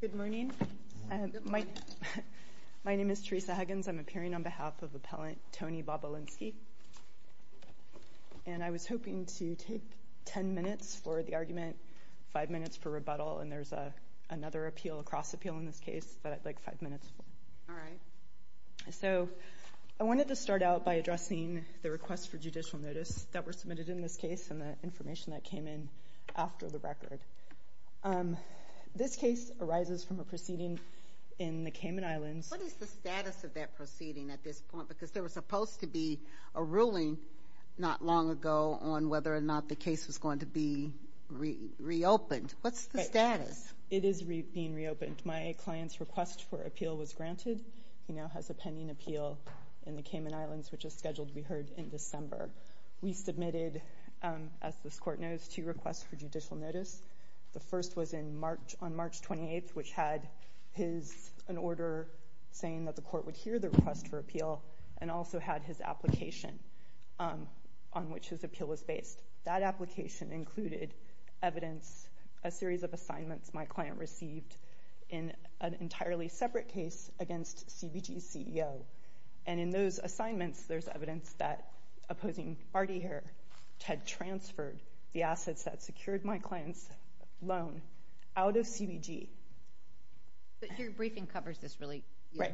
Good morning. My name is Teresa Huggins. I'm appearing on behalf of appellant Tony Bobulinski. And I was hoping to take ten minutes for the argument, five minutes for rebuttal, and there's another appeal, a cross-appeal in this case, that I'd like five minutes for. So I wanted to start out by addressing the requests for judicial notice that were submitted in this case and the information that came in after the record. This case arises from a proceeding in the Cayman Islands. What is the status of that proceeding at this point? Because there was supposed to be a ruling not long ago on whether or not the case was going to be reopened. What's the status? It is being reopened. My client's request for appeal was granted. He now has a pending appeal in the Cayman Islands which is scheduled to be heard in December. We submitted, as this court knows, two requests for judicial notice. The first was on March 28th which had an order saying that the court would hear the request for appeal and also had his application on which his appeal was based. That application included evidence, a series of assignments my client received in an entirely separate case against CBG's opposing party here to transfer the assets that secured my client's loan out of CBG. Your briefing covers this really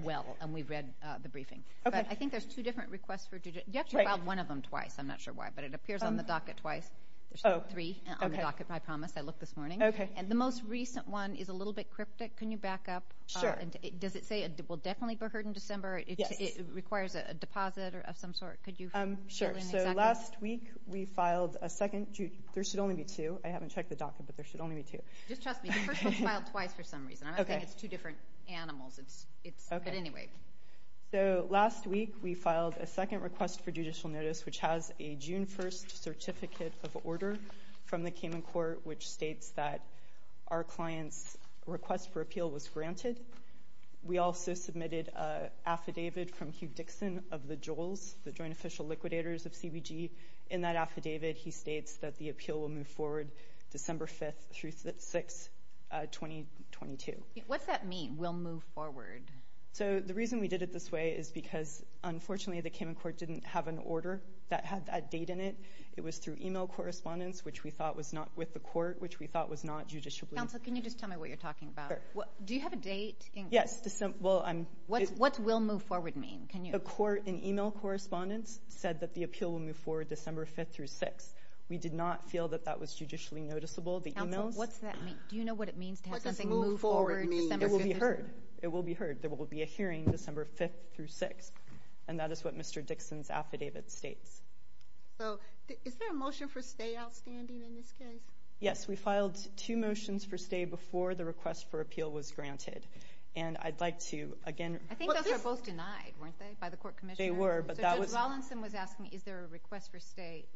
well and we've read the briefing. I think there's two different requests. You actually filed one of them twice. I'm not sure why. But it appears on the docket twice. There's three on the docket, I promise. I looked this morning. The most recent one is a little bit cryptic. Can you back up? Does it say it will definitely be heard in December? Yes. It requires a deposit of some sort? Sure. So last week we filed a second. There should only be two. I haven't checked the docket but there should only be two. Just trust me. The first was filed twice for some reason. I don't think it's two different animals. But anyway. So last week we filed a second request for judicial notice which has a June 1st certificate of order from the Cayman court which states that our client's request for appeal was granted. We also submitted an affidavit from Hugh Dixon of the Jowls, the joint official liquidators of CBG. In that affidavit he states that the appeal will move forward December 5th through 6th, 2022. What's that mean, we'll move forward? So the reason we did it this way is because unfortunately the Cayman court didn't have an order that had that date in it. It was through email correspondence which we thought was not with the court, which we thought was not judicially... Counsel, can you just tell me what you're talking about? Do you have a date? Yes. What's we'll move forward mean? A court in email correspondence said that the appeal will move forward December 5th through 6th. We did not feel that that was judicially noticeable. Counsel, do you know what it means to have something move forward December 5th through 6th? It will be heard. There will be a hearing December 5th through 6th. And that is what Mr. Dixon's outstanding in this case? Yes, we filed two motions for stay before the request for appeal was granted. And I'd like to again... I think those were both denied, weren't they, by the court commissioners? They were, but that was... Judge Rollinson was asking is there a request for stay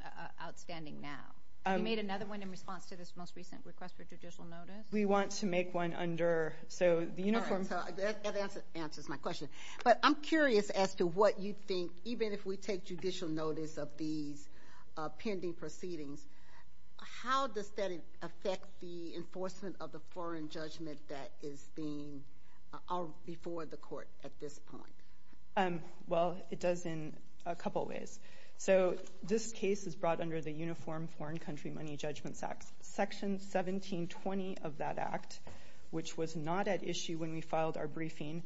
outstanding now. You made another one in response to this most recent request for judicial notice? We want to make one under... So the uniform... That answers my question. But I'm curious as to what you think, even if we take judicial notice of these pending proceedings, how does that affect the enforcement of the foreign judgment that is being... Before the court at this point? Well, it does in a couple ways. So this case is brought under the Uniform Foreign Country Money Judgments Act. Section 1720 of that act, which was not at issue when we filed our briefing.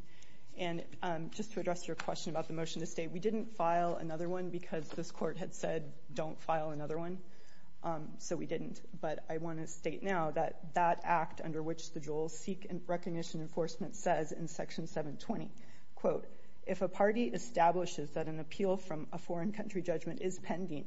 And just to address your question about the motion to stay, we didn't file another one because this court had said don't file another one. So we didn't. But I want to state now that that act under which the jewels seek and recognition enforcement says in Section 720, quote, if a party establishes that an appeal from a foreign country judgment is pending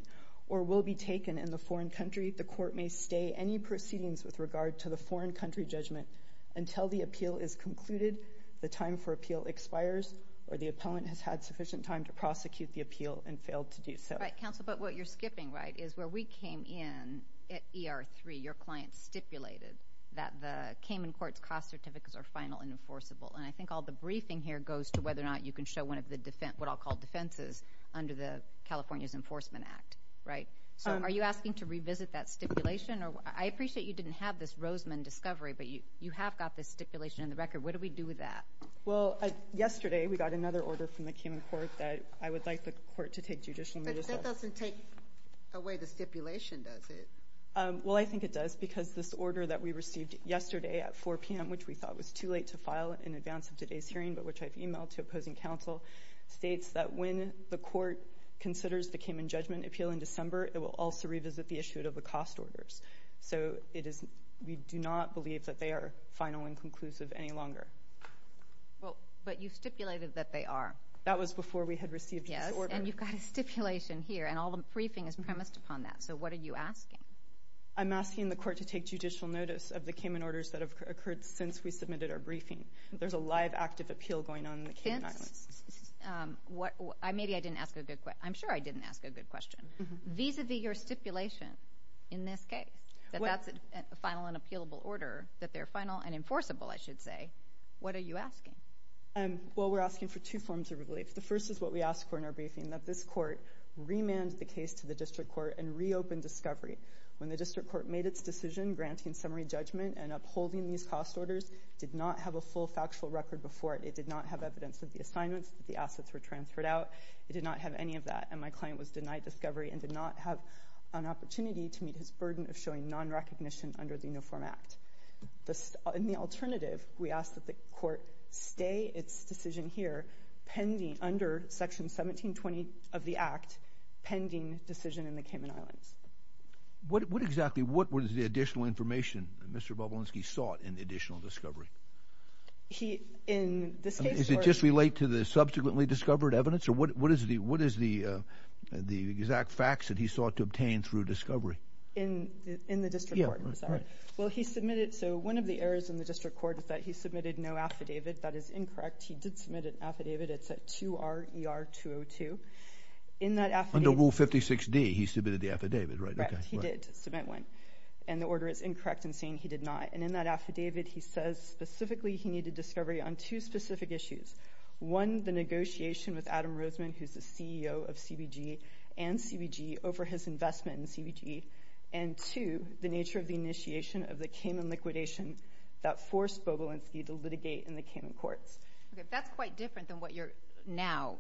or will be taken in the foreign country, the court may stay any proceedings with regard to the foreign country judgment until the appeal is concluded, the time for appeal expires, or the opponent has had sufficient time to prosecute the appeal and failed to do so. Right. Counsel, but what you're skipping, right, is where we came in at ER3, your client stipulated that the Cayman Court's cost certificates are final and enforceable. And I think all the briefing here goes to whether or not you can show one of the what I'll call defenses under the California's Enforcement Act, right? So are you asking to revisit that stipulation? I appreciate you didn't have this Roseman discovery, but you have got this stipulation in the record. What do we do with that? Well, yesterday we got another order from the Cayman Court that I would like the court to take judicial notice of. But that doesn't take away the stipulation, does it? Well, I think it does because this order that we received yesterday at 4 p.m., which we thought was too late to file in advance of today's hearing, but which I've emailed to opposing counsel, states that when the court considers the Cayman judgment appeal in December, it will also not believe that they are final and conclusive any longer. But you stipulated that they are. That was before we had received this order. Yes, and you've got a stipulation here and all the briefing is premised upon that. So what are you asking? I'm asking the court to take judicial notice of the Cayman orders that have occurred since we submitted our briefing. There's a live, active appeal going on in the Cayman Islands. Maybe I didn't ask a good question. I'm sure I didn't ask a good question. Vis-a-vis your stipulation in this case, that that's a final and appealable order, that they're final and enforceable, I should say. What are you asking? Well, we're asking for two forms of relief. The first is what we ask for in our briefing, that this court remand the case to the district court and reopen discovery. When the district court made its decision granting summary judgment and upholding these cost orders, it did not have a full factual record before it. It did not have evidence of the assignments, the assets were transferred out. It did not have any of that. And my client was denied discovery and did not have an opportunity to meet his burden of showing non-recognition under the Uniform Act. In the alternative, we ask that the court stay its decision here pending, under Section 1720 of the Act, pending decision in the Cayman Islands. What exactly, what was the additional information that Mr. Bobulinski sought in the additional discovery? He, in this case... Does it just relate to the subsequently discovered evidence, or what is the exact facts that he sought to obtain through discovery? In the district court, I'm sorry. Well, he submitted, so one of the errors in the district court is that he submitted no affidavit. That is incorrect. He did submit an affidavit. It's at 2R-ER-202. In that affidavit... Under Rule 56D, he submitted the affidavit, right? Correct, he did submit one. And the order is incorrect in saying he did not. And in that affidavit, he says specifically he needed discovery on two specific issues. One, the nature of the initiation of the Cayman liquidation that forced Bobulinski to litigate in the Cayman courts. Okay, but that's quite different than what you're now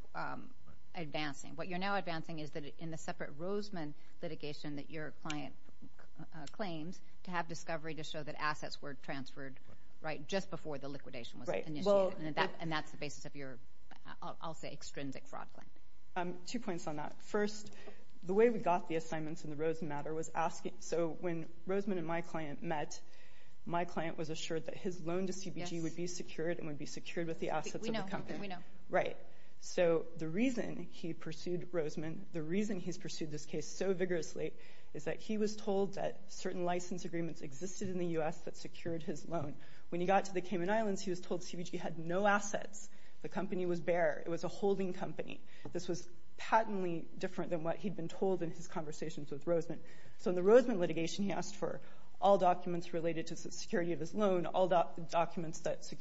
advancing. What you're now advancing is that in the separate Roseman litigation that your client claims to have discovery to show that assets were transferred, right, just before the liquidation was initiated. And that's the basis of your, I'll say, extrinsic fraud claim. Two points on that. First, the way we got the assignments in the Rosen matter was asking... So when Roseman and my client met, my client was assured that his loan to CBG would be secured and would be secured with the assets of the company. We know, we know. Right. So the reason he pursued Roseman, the reason he's pursued this case so vigorously is that he was told that certain license agreements existed in the US that secured his loan. When he got to the Cayman Islands, he was told CBG had no assets. The company was bare. It was a holding company. This was patently different than what he'd been told in his conversations with Roseman. So in the Roseman litigation, he asked for all documents related to security of his loan, all documents that,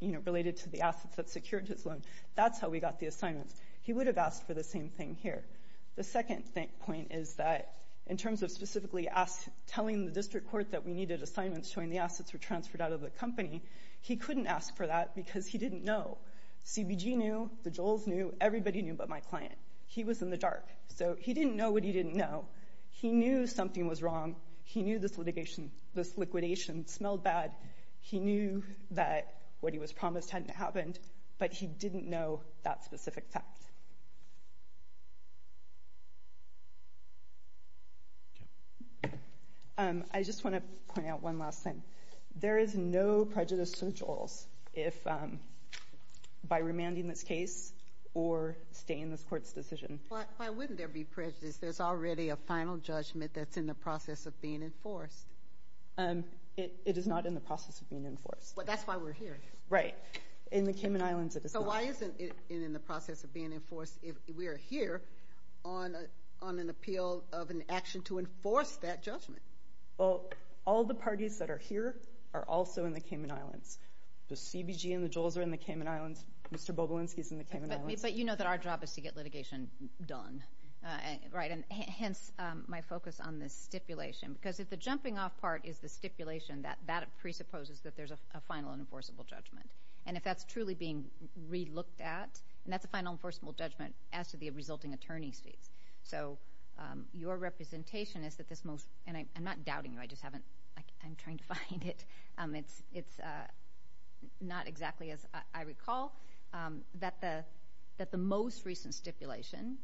you know, related to the assets that secured his loan. That's how we got the assignments. He would have asked for the same thing here. The second point is that in terms of specifically telling the district court that we needed assignments showing the assets were transferred out of the company, he couldn't ask for that because he didn't know. CBG knew. The Joles knew. Everybody knew but my client. He was in the dark. So he didn't know what he didn't know. He knew something was wrong. He knew this litigation, this liquidation smelled bad. He knew that what he was promised hadn't happened, but he didn't know that specific fact. I just want to point out one last thing. There is no prejudice to the Joles if by remanding this case or staying in this court's decision. Why wouldn't there be prejudice? There's already a final judgment that's in the process of being enforced. It is not in the process of being enforced. That's why we're here. Right. In the Cayman Islands, it is not. So why isn't it in the process of being enforced if we are here on an appeal of an action to enforce that judgment? Well, all the parties that are here are also in the Cayman Islands. The CBG and the Joles are in the Cayman Islands. Mr. Bobulinski is in the Cayman Islands. But you know that our job is to get litigation done, right? And hence, my focus on this stipulation because if the jumping off part is the stipulation, that presupposes that there's a final enforceable judgment. And if that's truly being re-looked at, that's a final enforceable judgment as to the resulting attorney's fees. So your representation is that this most, and I'm not doubting you, I just haven't, I'm trying to find it, it's not exactly as I recall, that the most recent stipulation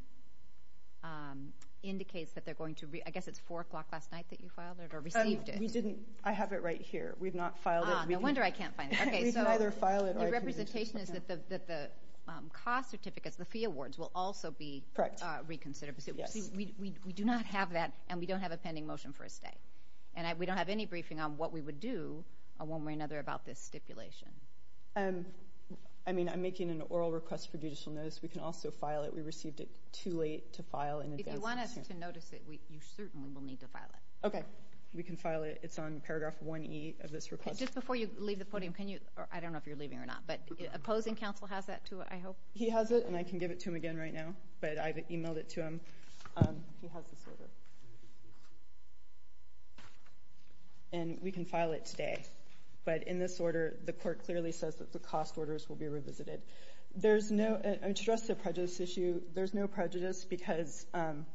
indicates that they're going to, I guess it's 4 o'clock last night that you filed it or received it. We didn't, I have it right here. We've not filed it. Ah, no wonder I can't find it. Okay, so your representation is that the cost certificates, the fee awards will also be reconsidered. We do not have that and we don't have a pending motion for a stay. And we don't have any briefing on what we would do on one way or another about this stipulation. Um, I mean, I'm making an oral request for judicial notice. We can also file it. We received it too late to file in advance. If you want us to notice it, you certainly will need to file it. Okay, we can file it. It's on paragraph 1E of this request. Just before you leave the podium, can you, I don't know if you're leaving or not, but opposing counsel has that too, I hope? He has it and I can give it to him again right now, but I've emailed it to him. Um, who has this order? And we can file it today. But in this order, the court clearly says that the cost orders will be revisited. There's no, to address the prejudice issue, there's no prejudice because, um,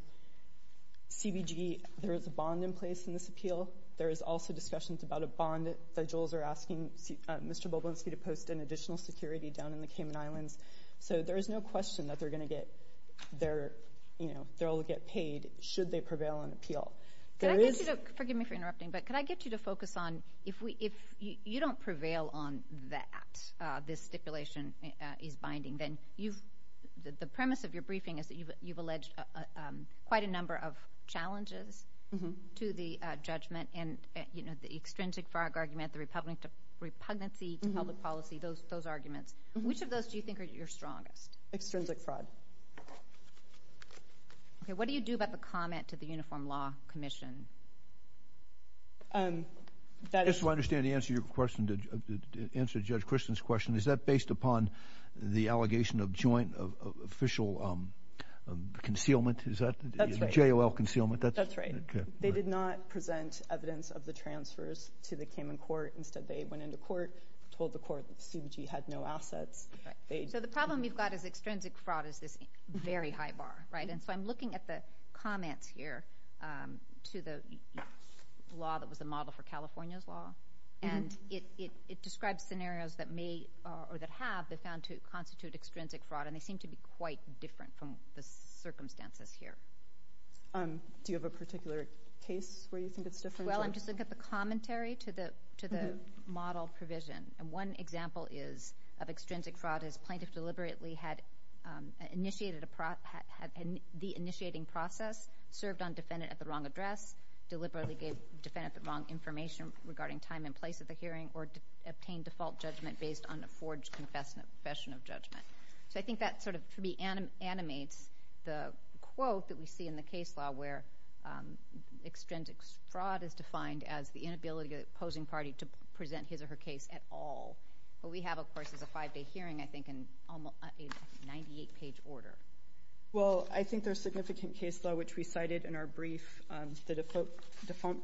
CBG, there is a bond in place in this appeal. There is also discussions about a bond that federals are asking Mr. Boblinski to post an additional security down in the Cayman Islands. So there is no question that they're going to get their, you know, they'll get paid should they prevail on appeal. Could I get you to, forgive me for interrupting, but could I get you to focus on, if we, if you don't prevail on that, this stipulation is binding, then you've, the premise of your briefing is that you've, you've alleged quite a number of challenges to the judgment and, you know, the extrinsic fraud argument, the Republic to, repugnancy to public policy, those, those arguments. Which of those do you think are your strongest? Extrinsic fraud. Okay. What do you do about the comment to the Uniform Law Commission? Um, that is, I understand the answer to your question, the answer to Judge Kristen's question, is that based upon the allegation of joint official, um, concealment? Is that JOL concealment? That's right. They did not present evidence of the transfers to the Cayman court. Instead, they went into court, told the court that CBG had no assets. Right. So the problem you've got is extrinsic fraud is this very high bar, right? And so I'm looking at the comments here, um, to the law that was a model for California's law, and it, it, it describes scenarios that may, or that have been found to constitute extrinsic fraud, and they seem to be quite different from the circumstances here. Um, do you have a particular case where you think it's different? Well, I'm just looking at the commentary to the, to the model provision. And one example is, of extrinsic fraud is plaintiff deliberately had, um, initiated a, had, had, had the initiating process, served on defendant at the wrong address, deliberately gave defendant the wrong information regarding time and place of the hearing, or obtained default judgment based on a forged confession, confession of judgment. So I think that sort of, to me, anim, animates the quote that we see in the case law where, um, extrinsic fraud is defined as the inability of the opposing party to present his or her case at all. What we have, of course, is a five-day hearing, I think, in almost a 98-page order. Well, I think there's significant case law, which we cited in our brief, um, the default, default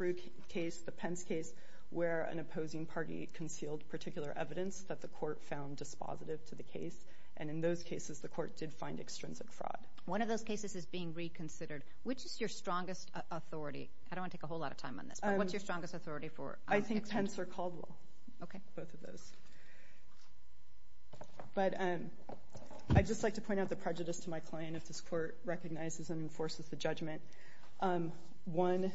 case, the Pence case, where an opposing party concealed particular evidence that the court found dispositive to the case. And in those cases, the court did find extrinsic fraud. One of those cases is being reconsidered. Which is your strongest authority? I don't want to take a whole lot of time on this, but what's your strongest authority for, um, I think Pence or Caldwell. Okay. Both of those. But, um, I'd just like to point out the prejudice to my client if this court recognizes and enforces the judgment. Um, one,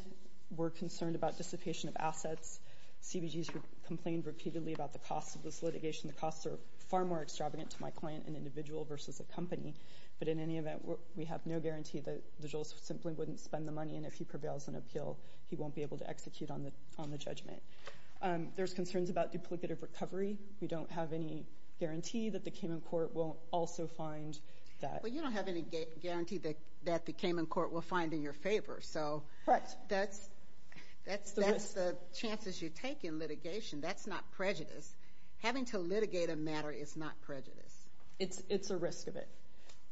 we're concerned about dissipation of assets. CBG has complained repeatedly about the cost of this litigation, the costs are far more extravagant to my client, an individual versus a company. But in any event, we have no guarantee that the judge simply wouldn't spend the money, and if he prevails in appeal, he won't be able to execute on the, on the judgment. Um, there's concerns about duplicative recovery. We don't have any guarantee that the Cayman Court won't also find that. Well, you don't have any guarantee that, that the Cayman Court will find in your favor, so. Correct. That's, that's, that's the chances you take in litigation. That's not prejudice. Having to litigate a matter is not prejudice. It's, it's a risk of it.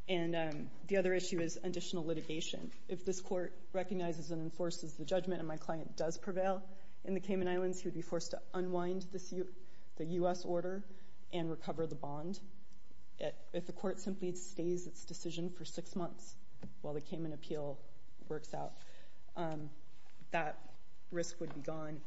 And, um, the other issue is additional litigation. If this court recognizes and enforces the judgment and my client does prevail in the Cayman Islands, he would be forced to unwind this, the U.S. order and recover the bond. If the court simply stays its decision for six months while the Cayman appeal works out, um, that risk would be gone.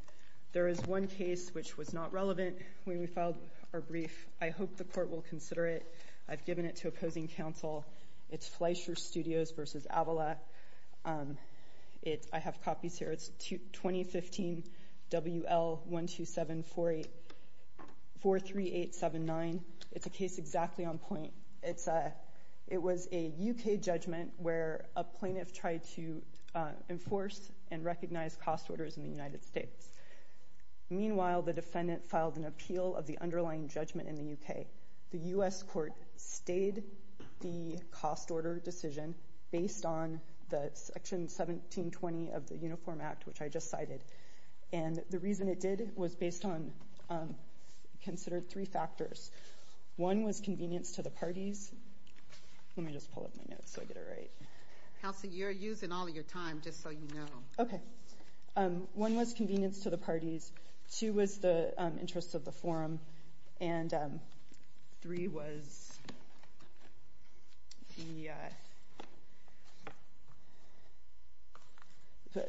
There is one case which was not relevant when we filed our brief. I hope the court will consider it. I've given it to opposing counsel. It's Fleischer Studios versus Avala. Um, it's, I have copies here. It's 2015 WL12748, 43879. It's a case exactly on point. It's a, it was a U.K. judgment where a plaintiff tried to, uh, enforce and recognize cost orders in the United States. Meanwhile, the defendant filed an appeal of the underlying judgment in the U.K. The U.S. court stayed the cost order decision based on the section 1720 of the Uniform Act, which I just cited. And the reason it did was based on, um, considered three factors. One was convenience to the parties. Let me just pull up my notes so I get it right. Halsey, you're using all your time just so you know. Okay. Um, one was convenience to the parties. Two was the, um, interest of the forum. And, um, three was the, uh,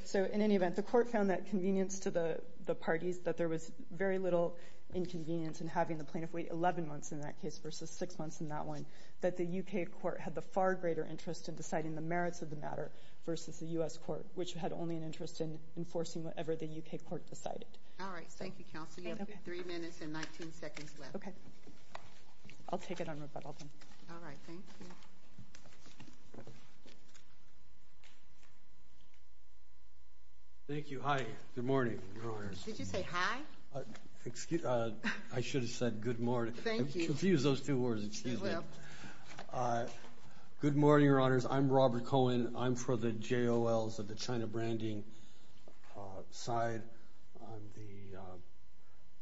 so in any event, the court found that convenience to the, the parties, that there was very little inconvenience in having the plaintiff wait 11 months in that case versus six months in that one, that the U.K. court had the far greater interest in deciding the merits of the matter versus the U.S. court, which had only an interest in enforcing whatever the U.K. court decided. All right. Thank you, Counselor. You have three minutes and 19 seconds left. Okay. I'll take it on rebuttal then. All right. Thank you. Thank you. Hi. Good morning, Your Honors. Did you say hi? Uh, excuse, uh, I should have said good morning. Thank you. I confused those two words. Excuse me. Uh, good morning, Your Honors. I'm Robert Cohen. I'm for the JOLs of the China branding, uh, side. I'm the, uh,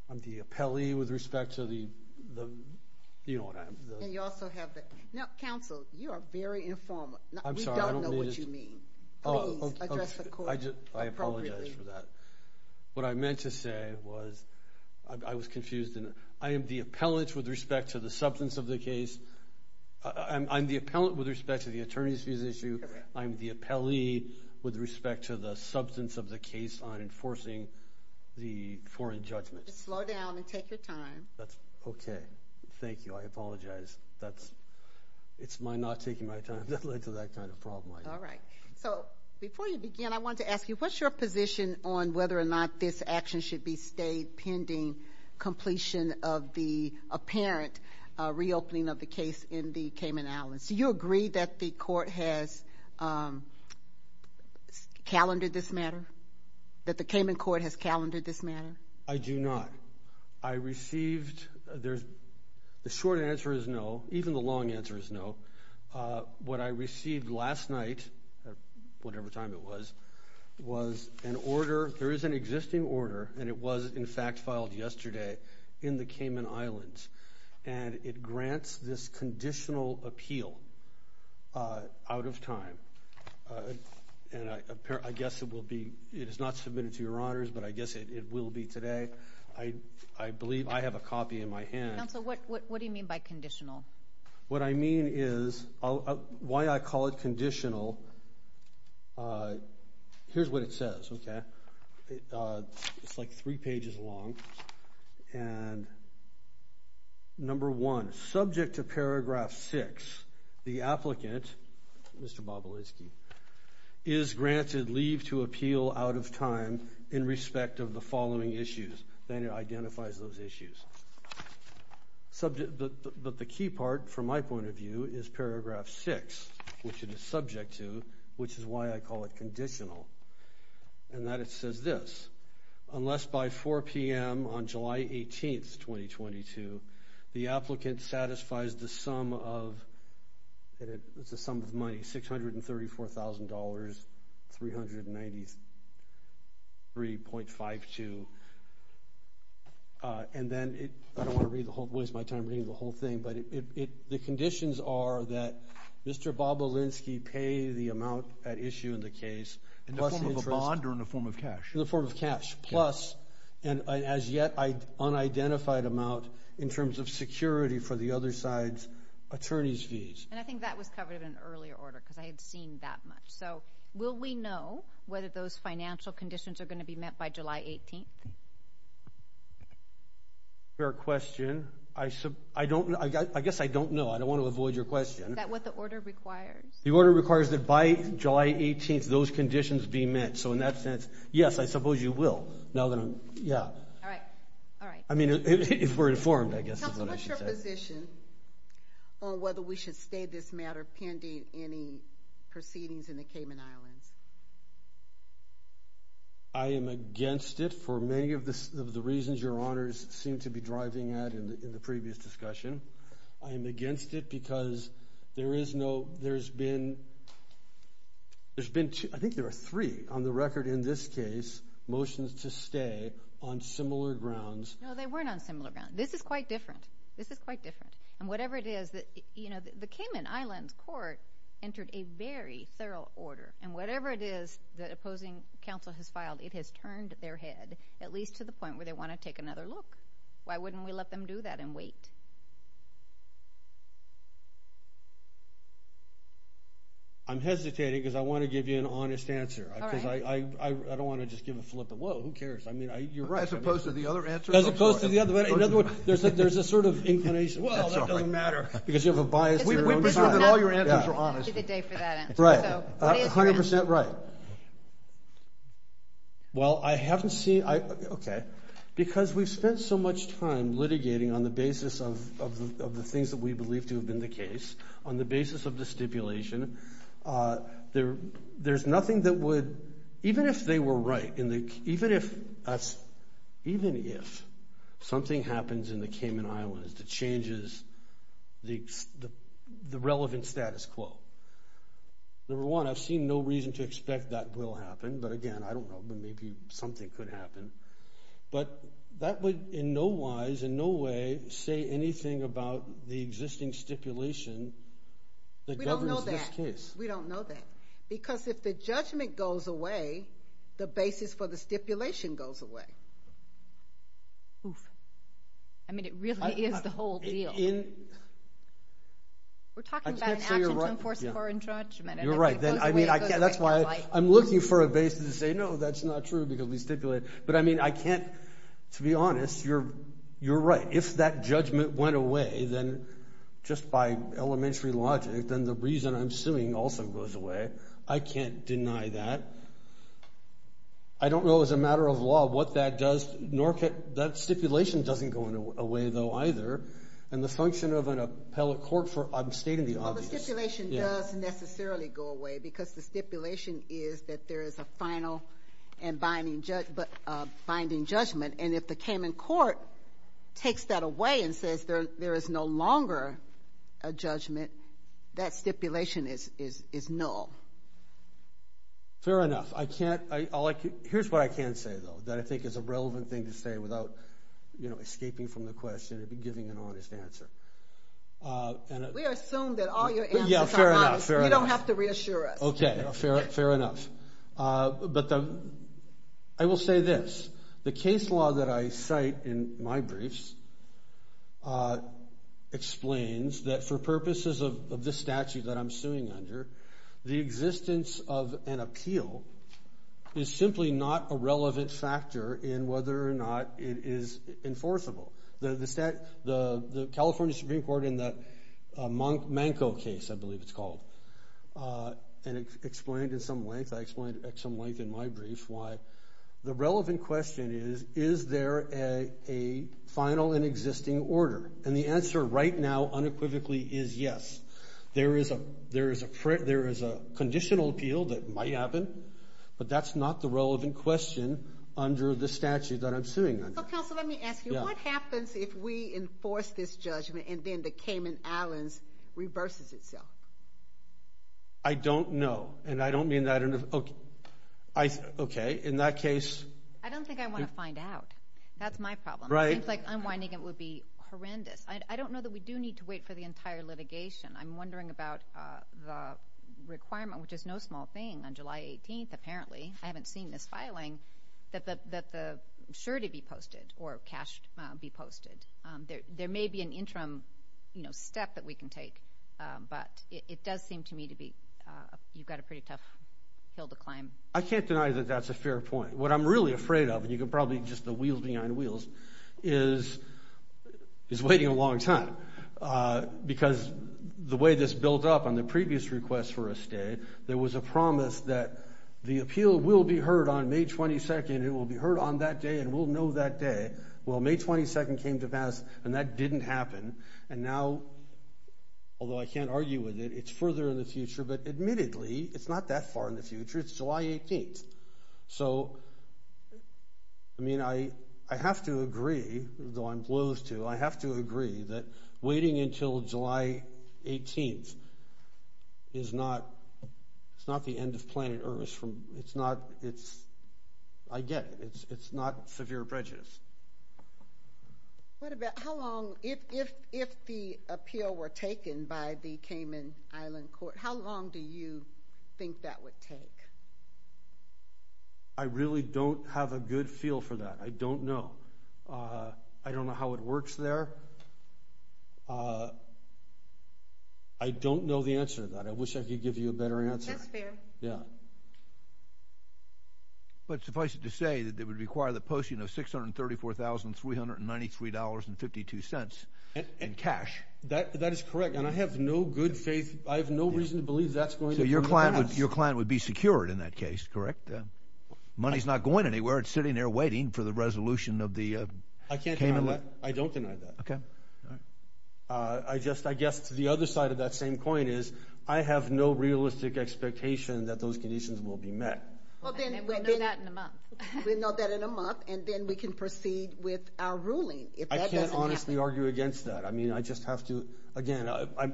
I'm the appellee with respect to the, the, you know what I am. And you also have the, now Counsel, you are very informal. I'm sorry. I don't mean to. We don't know what you mean. Please address the court appropriately. I just, I apologize for that. What I meant to say was I was confused and I am the appellate with respect to the substance of the case. I'm the appellate with respect to the attorney's visa issue. I'm the appellee with respect to the substance of the case on enforcing the foreign judgment. Slow down and take your time. That's okay. Thank you. I apologize. That's, it's my not taking my time that led to that kind of problem. All right. So before you begin, I wanted to ask you, what's your position on whether or not this action should be stayed pending completion of the apparent reopening of the case in the Cayman Islands. Do you agree that the court has, um, calendared this matter that the Cayman court has calendared this matter? I do not. I received, there's the short answer is no. Even the long answer is no. Uh, what I received last night, whatever time it was, was an order. There is an existing order and it was in fact filed yesterday in the Cayman Islands and it grants this conditional appeal, uh, out of time. Uh, and I, I guess it will be, it is not submitted to your honors, but I guess it will be today. I, I believe I have a copy in my hand. What do you mean by conditional? What I mean is why I call it conditional. Uh, here's what it says. Okay. Uh, it's like three pages long. And number one, subject to paragraph six, the applicant, Mr. Boblewski is granted leave to appeal out of time in respect of the following issues. Then it identifies those issues. Subject, but the key part from my point of view is paragraph six, which it is subject to, which is why I call it conditional. And that it says this, unless by 4 p.m. on July 18th, 2022, the applicant satisfies the sum of, it's a sum of money, $634,393.52. Uh, and then it, I don't want to go into too much detail, but the conditions are that Mr. Boblewski pay the amount at issue in the case. In the form of a bond or in the form of cash? In the form of cash. Plus, and as yet unidentified amount in terms of security for the other side's attorney's fees. And I think that was covered in an earlier order because I had seen that much. So, will we know whether those financial conditions are going to be met by July 18th? Fair question. I don't know. I guess I don't know. I don't want to avoid your question. Is that what the order requires? The order requires that by July 18th, those conditions be met. So in that sense, yes, I suppose you will. Now that I'm, yeah. All right. All right. I mean, if we're informed, I guess that's what I should say. Counsel, what's your position on whether we should stay this matter pending any proceedings in the Cayman Islands? I am against it for many of the reasons your honors seem to be driving at in the previous discussion. I am against it because there is no, there's been, there's been, I think there are three on the record in this case, motions to stay on similar grounds. No, they weren't on similar grounds. This is quite different. This is quite different. And whatever it is that, you know, the Cayman Islands court entered a very thorough order. And whatever it is that opposing counsel has at least to the point where they want to take another look, why wouldn't we let them do that and wait? I'm hesitating because I want to give you an honest answer. I don't want to just give a flip of, whoa, who cares? I mean, you're right. As opposed to the other answer? As opposed to the other, there's a, there's a sort of inclination. Well, that doesn't matter. Because you have a hundred percent right. Well, I haven't seen, okay. Because we've spent so much time litigating on the basis of the things that we believe to have been the case on the basis of the stipulation. There, there's nothing that would, even if they were right in the, even if that's, even if something happens in the Cayman Islands that changes the relevant status quo. Number one, I've seen no reason to expect that will happen. But again, I don't know, but maybe something could happen. But that would in no wise, in no way say anything about the existing stipulation that governs this case. We don't know that. We don't know that. Because if the judgment goes away, the basis for the stipulation goes away. I mean, it really is the whole deal. We're talking about an action to enforce a foreign judgment. You're right. That's why I'm looking for a basis to say, no, that's not true because we stipulate. But I mean, I can't, to be honest, you're, you're right. If that judgment went away, then just by elementary logic, then the reason I'm suing also goes away. I can't deny that. I don't know as a matter of law what that does, nor can, that stipulation doesn't go away though either. And the function of an appellate court for, I'm stating the obvious. Well, the stipulation does necessarily go away because the stipulation is that there is a final and binding judgment. And if the Cayman court takes that away and says there, there is no longer a judgment, that stipulation is, is, is null. Fair enough. I can't, I, all I can, here's what I can say though that I think is a relevant thing to say without, you know, escaping from the question and giving an honest answer. We assume that all your answers are honest. Yeah, fair enough, fair enough. You don't have to reassure us. Okay, fair, fair enough. But the, I will say this. The case law that I cite in my briefs explains that for purposes of this statute that I'm suing under, the existence of an appeal is simply not a relevant factor in whether or not it is enforceable. The, the stat, the, the California Supreme Court in the Monk, Manco case, I believe it's called, and it's explained in some length, I guess, it's explained at some length in my brief, why the relevant question is, is there a, a final and existing order? And the answer right now unequivocally is yes. There is a, there is a, there is a conditional appeal that might happen, but that's not the relevant question under the statute that I'm suing under. Counselor, let me ask you, what happens if we enforce this judgment and then the Cayman Islands reverses itself? I don't know, and I don't mean that in a, okay, I, okay, in that case. I don't think I want to find out. That's my problem. Right. It seems like unwinding it would be horrendous. I, I don't know that we do need to wait for the entire litigation. I'm wondering about the requirement, which is no small thing, on July 18th, apparently, I haven't seen this filing, that the, that the surety be posted. Or cashed, be posted. There, there may be an interim, you know, step that we can take, but it, it does seem to me to be, you've got a pretty tough hill to climb. I can't deny that that's a fair point. What I'm really afraid of, and you can probably, just the wheels behind the wheels, is, is waiting a long time, because the way this built up on the previous request for a stay, there was a promise that the appeal will be heard on May 22nd, it will be heard on that day, and we'll know that day. Well, May 22nd came to pass, and that didn't happen, and now, although I can't argue with it, it's further in the future, but admittedly, it's not that far in the future, it's July 18th. So, I mean, I, I have to agree, though I'm loath to, I have to agree that waiting until July 18th is not, it's not the end of planet Earth, it's not, it's, I get it, it's, it's not severe prejudice. What about, how long, if, if, if the appeal were taken by the Cayman Island Court, how long do you think that would take? I really don't have a good feel for that. I don't know. I don't know how it works there. I don't know the answer to that. I wish I could give you a better answer. That's fair. Yeah. But suffice it to say that it would require the posting of $634,393.52 in cash. That, that is correct, and I have no good faith, I have no reason to believe that's going to come to pass. So your client would, your client would be secured in that case, correct? Yeah. Money's not going anywhere, it's sitting there waiting for the resolution of the Cayman. I can't deny that. I don't deny that. Okay. I just, I guess to the other side of that same coin is, I have no realistic expectation that those conditions will be met. And we'll know that in a month. We'll know that in a month, and then we can proceed with our ruling if that doesn't happen. I can't honestly argue against that. I mean, I just have to, again, I'm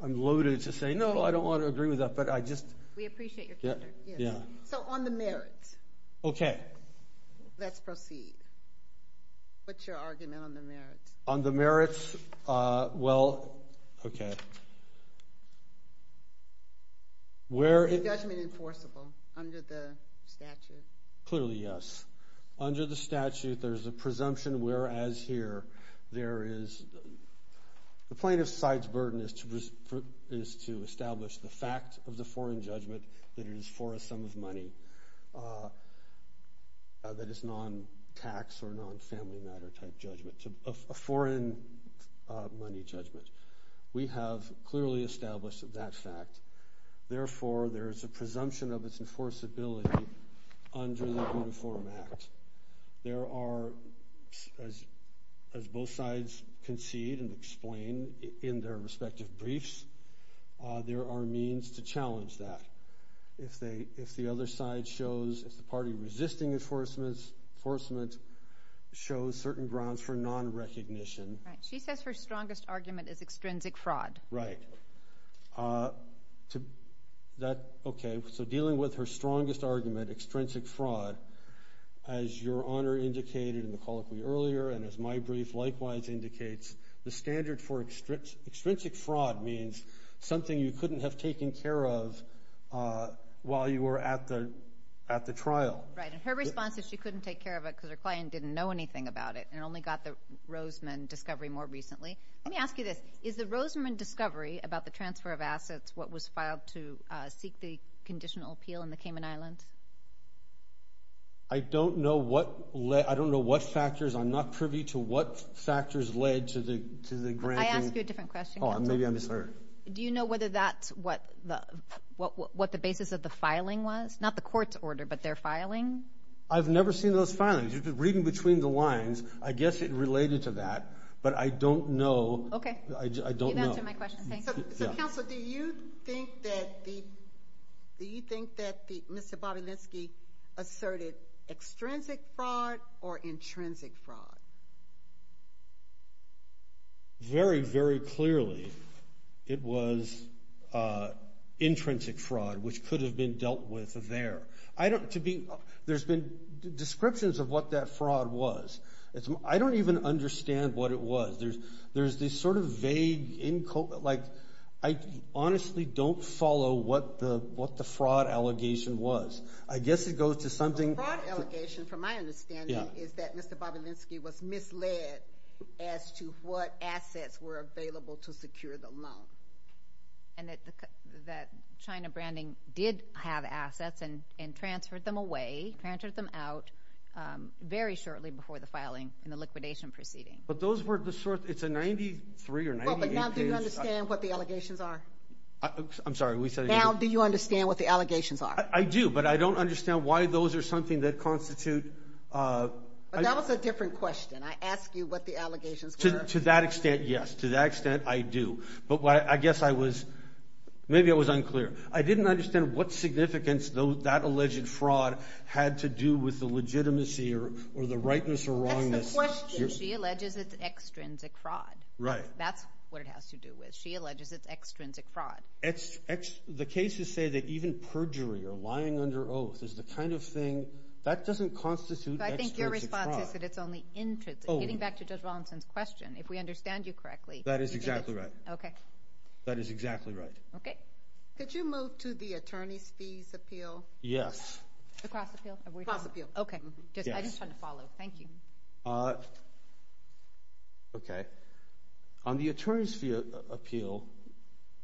loaded to say no, I don't want to agree with that, but I just... We appreciate your candor. Yeah. So on the merits. Okay. Let's proceed. What's your argument on the merits? On the merits, well, okay. Where... Is the judgment enforceable under the statute? Clearly, yes. Under the statute, there's a presumption, whereas here, there is... The plaintiff's side's burden is to establish the fact of the foreign judgment that it is for a sum of money. That it's non-tax or non-family matter type judgment. A foreign money judgment. We have clearly established that fact. Therefore, there is a presumption of its enforceability under the Uniform Act. There are, as both sides concede and explain in their respective briefs, there are means to challenge that. If the other side shows, if the party resisting enforcement shows certain grounds for non-recognition... She says her strongest argument is extrinsic fraud. Right. Okay. So dealing with her strongest argument, extrinsic fraud, as Your Honor indicated in the colloquy earlier, and as my brief likewise indicates, the standard for extrinsic fraud means something you couldn't have taken care of while you were at the trial. Right. And her response is she couldn't take care of it because her client didn't know anything about it and only got the Rosman discovery more recently. Let me ask you this. Is the Rosman discovery about the transfer of assets what was filed to seek the conditional appeal in the Cayman Islands? I don't know what led, I don't know what factors, I'm not privy to what factors led to the granting... I ask you a different question, counsel. Oh, maybe I misheard. Do you know whether that's what the basis of the filing was? Not the court's order, but their filing? I've never seen those filings. Reading between the lines, I guess it related to that, but I don't know. Okay. I don't know. You've answered my question. So, counsel, do you think that Mr. Bobineski asserted extrinsic fraud or intrinsic fraud? Very, very clearly it was intrinsic fraud, which could have been dealt with there. There's been descriptions of what that fraud was. I don't even understand what it was. There's this sort of vague, like, I honestly don't follow what the fraud allegation was. I guess it goes to something... The fraud allegation, from my understanding, is that Mr. Bobineski was misled as to what assets were available to secure the loan. And that China Branding did have assets and transferred them away, transferred them out very shortly before the filing in the liquidation proceeding. But those were the sort... It's a 93 or 98 page... Well, but now do you understand what the allegations are? I'm sorry, we said... Now do you understand what the allegations are? I do, but I don't understand why those are something that constitute... That was a different question. I asked you what the allegations were. To that extent, yes. To that extent, I do. But I guess I was... Maybe I was unclear. I didn't understand what significance that alleged fraud had to do with the legitimacy or the rightness or wrongness... That's the question. She alleges it's extrinsic fraud. Right. That's what it has to do with. She alleges it's extrinsic fraud. The cases say that even perjury or lying under oath is the kind of thing... That doesn't constitute extrinsic fraud. I think your response is that it's only intrinsic. Getting back to Judge Robinson's question, if we understand you correctly... That is exactly right. That is exactly right. Okay. Could you move to the attorney's fees appeal? Yes. The cross appeal? Cross appeal. Okay. I just wanted to follow. Thank you. Okay. On the attorney's fee appeal,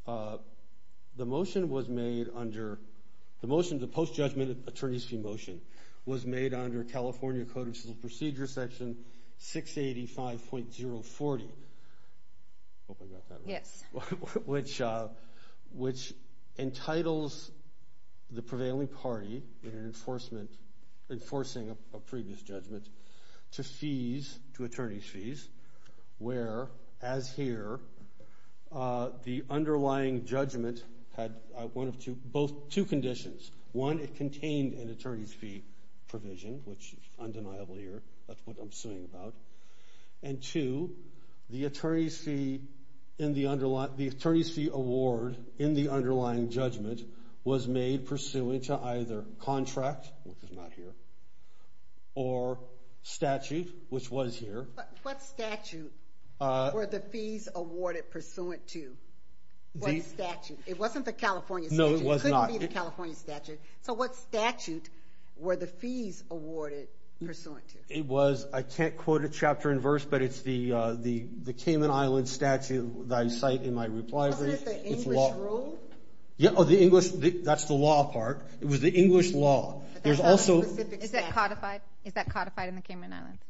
the motion was made under... The motion, the post-judgment attorney's fee motion was made under California Code of Civil Procedure Section 685.040. I hope I got that right. Yes. Which entitles the prevailing party in enforcing a previous judgment to fees, to attorney's fees, where, as here, the underlying judgment had both two conditions. One, it contained an attorney's fee provision, which is undeniable here. That's what I'm suing about. And two, the attorney's fee award in the underlying judgment was made pursuant to either contract, which is not here, or statute, which was here. What statute were the fees awarded pursuant to? What statute? It wasn't the California statute. No, it was not. It couldn't be the California statute. So what statute were the fees awarded pursuant to? I can't quote a chapter and verse, but it's the Cayman Islands statute that I cite in my reply brief. Wasn't it the English rule? That's the law part. It was the English law. Is that codified in the Cayman Islands?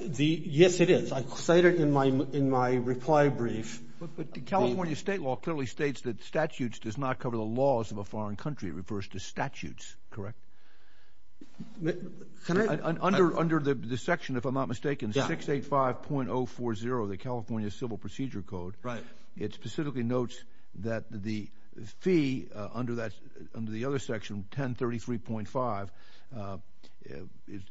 Yes, it is. I cite it in my reply brief. But the California state law clearly states that statutes does not cover the laws of a foreign country. It refers to statutes, correct? Under the section, if I'm not mistaken, 685.040 of the California Civil Procedure Code, it specifically notes that the fee under the other section, 1033.5,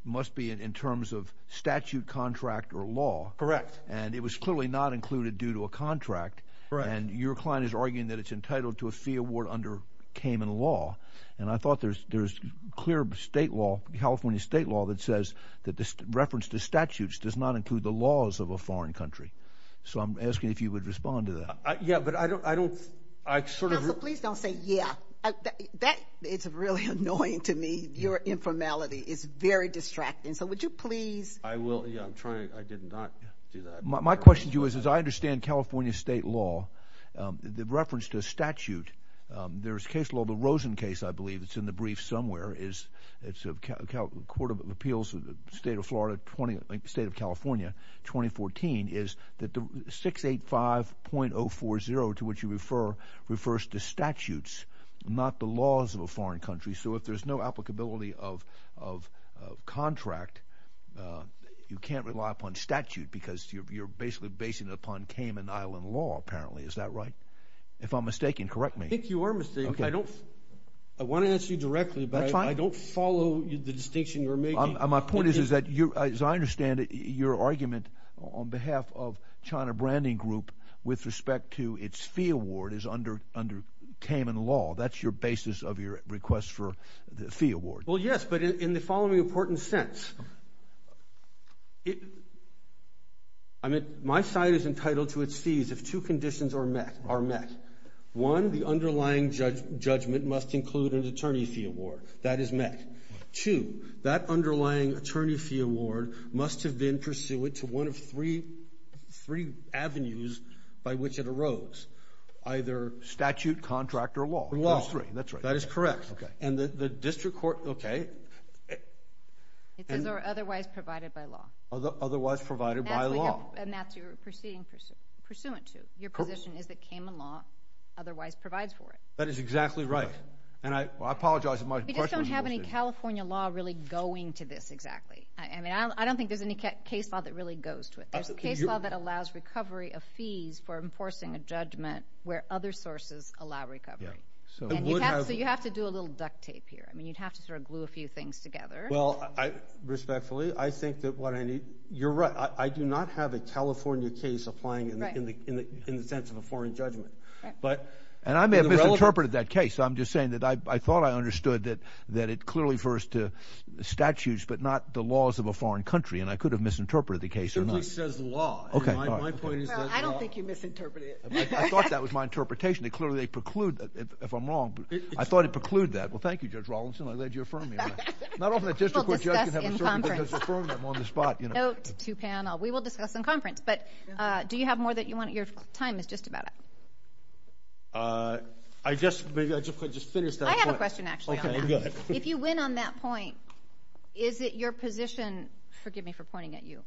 must be in terms of statute, contract, or law. Correct. And it was clearly not included due to a contract. Correct. And your client is arguing that it's entitled to a fee award under Cayman law. And I thought there's clear state law, California state law, that says that the reference to statutes does not include the laws of a foreign country. So I'm asking if you would respond to that. Yeah, but I don't – I sort of – Counsel, please don't say yeah. That is really annoying to me. Your informality is very distracting. So would you please – I will. Yeah, I'm trying. I did not do that. My question to you is, as I understand California state law, the reference to statute, there's a case law, the Rosen case, I believe. It's in the brief somewhere. It's the Court of Appeals of the State of Florida, State of California, 2014, is that the 685.040 to which you refer refers to statutes, not the laws of a foreign country. So if there's no applicability of contract, you can't rely upon statute because you're basically basing it upon Cayman Island law apparently. Is that right? If I'm mistaken, correct me. I think you are mistaken. Okay. I don't – I want to answer you directly, but I don't follow the distinction you're making. My point is that, as I understand it, your argument on behalf of China Branding Group with respect to its fee award is under Cayman law. That's your basis of your request for the fee award. Well, yes, but in the following important sense. It – I mean, my side is entitled to its fees if two conditions are met. One, the underlying judgment must include an attorney fee award. That is met. Two, that underlying attorney fee award must have been pursuant to one of three avenues by which it arose, either statute, contract, or law. Law. That's right. That is correct. Okay. And the district court – okay. It says otherwise provided by law. Otherwise provided by law. And that's your proceeding pursuant to. Your position is that Cayman law otherwise provides for it. That is exactly right. And I apologize if my question was – We just don't have any California law really going to this exactly. I mean, I don't think there's any case law that really goes to it. There's a case law that allows recovery of fees for enforcing a judgment where other sources allow recovery. Yeah. So you have to do a little duct tape here. I mean, you'd have to sort of glue a few things together. Well, respectfully, I think that what I need – you're right. I do not have a California case applying in the sense of a foreign judgment. Right. And I may have misinterpreted that case. I'm just saying that I thought I understood that it clearly refers to statutes but not the laws of a foreign country, and I could have misinterpreted the case or not. It just says law. Okay. My point is that law – I don't think you misinterpreted it. I thought that was my interpretation. It clearly precludes – if I'm wrong, I thought it precludes that. Well, thank you, Judge Rawlinson. I'm glad you affirmed me on that. Not often a district court judge can have a certificate that's affirmed. We'll discuss in conference. I'm on the spot, you know. Note to panel. We will discuss in conference. But do you have more that you want? Your time is just about up. I just – maybe I just finished that point. I have a question, actually, on that. Okay. Go ahead. If you win on that point, is it your position – forgive me for pointing at you.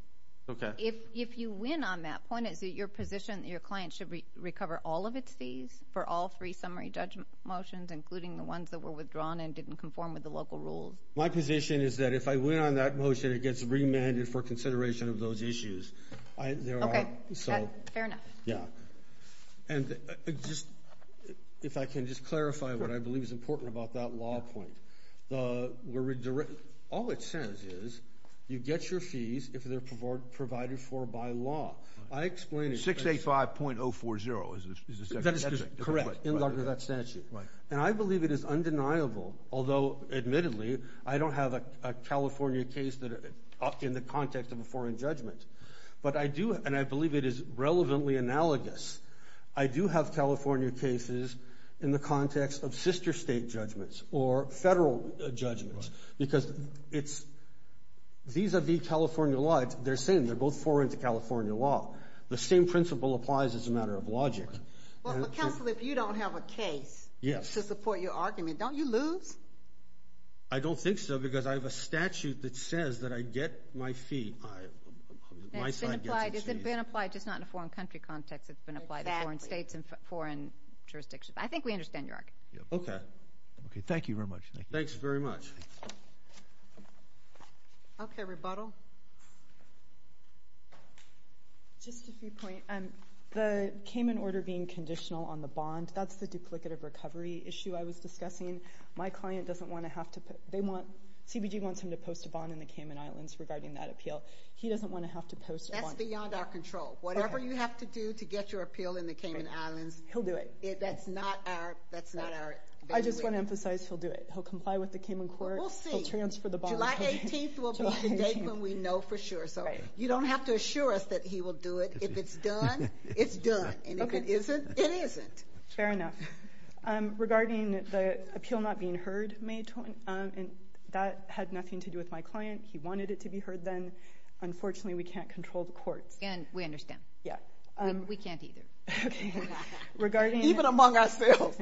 Okay. If you win on that point, is it your position that your client should recover all of its fees for all three summary judgment motions, including the ones that were withdrawn and didn't conform with the local rules? My position is that if I win on that motion, it gets remanded for consideration of those issues. Okay. Fair enough. Yeah. And just – if I can just clarify what I believe is important about that law point. All it says is you get your fees if they're provided for by law. I explain it – 685.040 is the section. Correct. In that statute. Right. And I believe it is undeniable, although admittedly, I don't have a California case that – in the context of a foreign judgment. But I do – and I believe it is relevantly analogous. I do have California cases in the context of sister state judgments or federal judgments because it's – these are the California laws. They're the same. They're both foreign to California law. The same principle applies as a matter of logic. Well, counsel, if you don't have a case to support your argument, don't you lose? I don't think so because I have a statute that says that I get my fee – my side gets And it's been applied – it's been applied just not in a foreign country context. It's been applied to foreign states and foreign jurisdictions. I think we understand your argument. Okay. Okay. Thank you very much. Thanks very much. Okay. Rebuttal? Just a few points. The Cayman order being conditional on the bond, that's the duplicative recovery issue I was discussing. My client doesn't want to have to – they want – CBG wants him to post a bond in the Cayman Islands regarding that appeal. He doesn't want to have to post a bond. That's beyond our control. Okay. Whatever you have to do to get your appeal in the Cayman Islands – He'll do it. That's not our – that's not our – I just want to emphasize he'll do it. He'll comply with the Cayman court. We'll see. He'll transfer the bond. We'll see. We know for sure. Right. So you don't have to assure us that he will do it. If it's done, it's done. Okay. And if it isn't, it isn't. Fair enough. Regarding the appeal not being heard May – that had nothing to do with my client. He wanted it to be heard then. Unfortunately, we can't control the courts. And we understand. Yeah. We can't either. Okay. Regarding – Even among ourselves.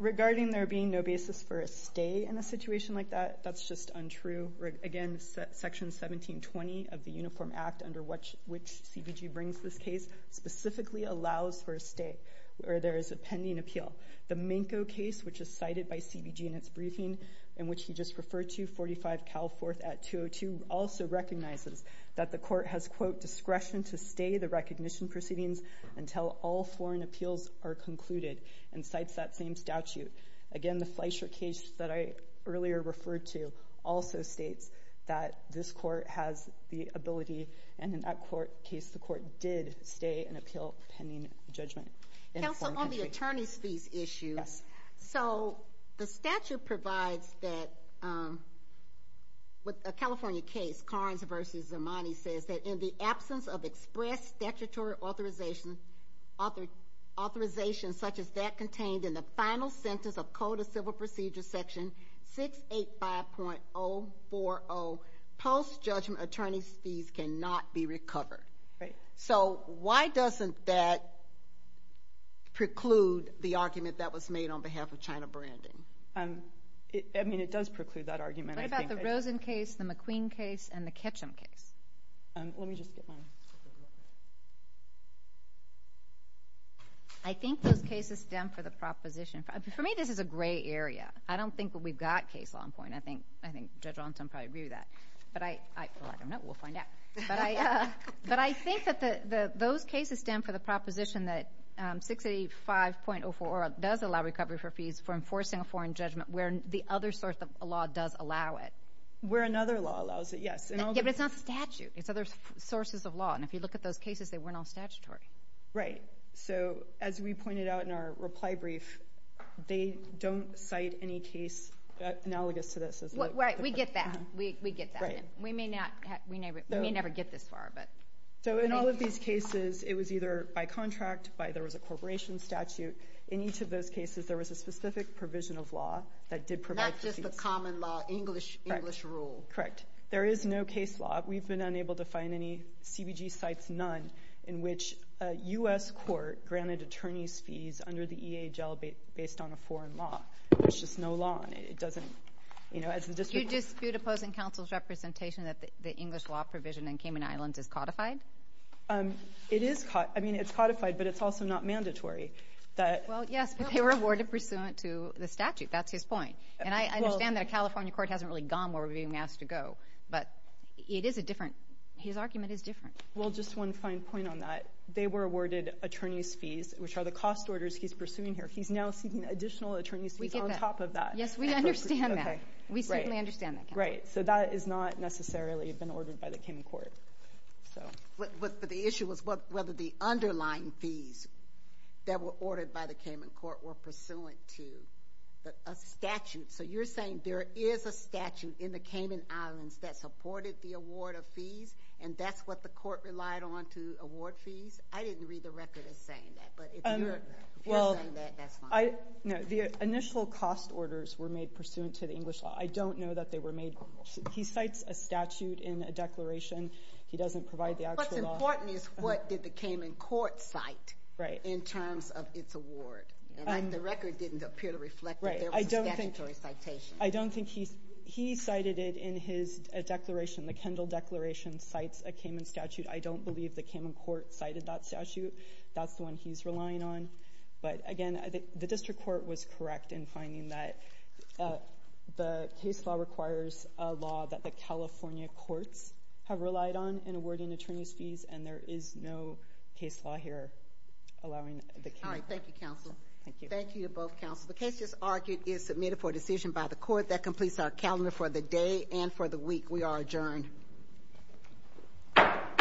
Regarding there being no basis for a stay in a situation like that, that's just untrue. Again, Section 1720 of the Uniform Act under which CBG brings this case specifically allows for a stay where there is a pending appeal. The Minkow case, which is cited by CBG in its briefing, in which he just referred to, 45 Cal 4th at 202, also recognizes that the court has, quote, discretion to stay the recognition proceedings until all foreign appeals are concluded, and cites that same statute. Again, the Fleischer case that I earlier referred to also states that this court has the ability – and in that court case, the court did stay an appeal pending judgment in a foreign country. Counsel, on the attorney's fees issue – Yes. So, the statute provides that with a California case, Carnes v. Zamani, says that in the absence of express statutory authorization such as that contained in the final sentence of Code of Civil Procedure Section 685.040, post-judgment attorney's fees cannot be recovered. Right. So, why doesn't that preclude the argument that was made on behalf of China Branding? I mean, it does preclude that argument. What about the Rosen case, the McQueen case, and the Ketchum case? Let me just get my – I think those cases stem for the proposition. For me, this is a gray area. I don't think that we've got case law in point. I think Judge Alton probably agree with that. But I – well, I don't know. We'll find out. But I think that those cases stem for the proposition that 685.040 does allow recovery for fees for enforcing a foreign judgment where the other sort of law does allow it. Where another law allows it, yes. But it's not statute. It's other sources of law. And if you look at those cases, they weren't all statutory. Right. So, as we pointed out in our reply brief, they don't cite any case analogous to this. Right. We get that. We get that. We may not – we may never get this far. So, in all of these cases, it was either by contract, by there was a corporation statute. In each of those cases, there was a specific provision of law that did provide for fees. Not just the common law, English rule. Correct. There is no case law. We've been unable to find any CBG cites none in which a U.S. court granted attorneys' fees under the EHL based on a foreign law. There's just no law. And it doesn't – you know, as the district – You dispute opposing counsel's representation that the English law provision in Cayman Islands is codified? It is – I mean, it's codified, but it's also not mandatory that – Well, yes. But they were awarded pursuant to the statute. That's his point. And I understand that a California court hasn't really gone where we're being asked to go, but it is a different – his argument is different. Well, just one fine point on that. They were awarded attorneys' fees, which are the cost orders he's pursuing here. He's now seeking additional attorneys' fees on top of that. We get that. Yes, we understand that. Okay. We certainly understand that, counsel. Right. So, that has not necessarily been ordered by the Cayman court, so. But the issue was whether the underlying fees that were ordered by the Cayman court were pursuant to a statute. So, you're saying there is a statute in the Cayman Islands that supported the award of fees, and that's what the court relied on to award fees? I didn't read the record as saying that, but if you're saying that, that's fine. Well, I – no, the initial cost orders were made pursuant to the English law. I don't know that they were made – he cites a statute in a declaration. He doesn't provide the actual law. What's important is what did the Cayman court cite in terms of its award. The record didn't appear to reflect that there was a statutory citation. I don't think he cited it in his declaration. The Kendall Declaration cites a Cayman statute. I don't believe the Cayman court cited that statute. That's the one he's relying on. But, again, the district court was correct in finding that the case law requires a law that the California courts have relied on in awarding attorneys' fees, and there is no case law here allowing the Cayman court. All right. Thank you, counsel. Thank you. Thank you to both counsels. The case just argued is submitted for decision by the court. That completes our calendar for the day and for the week. We are adjourned. All rise. This court's discretion is now adjourned.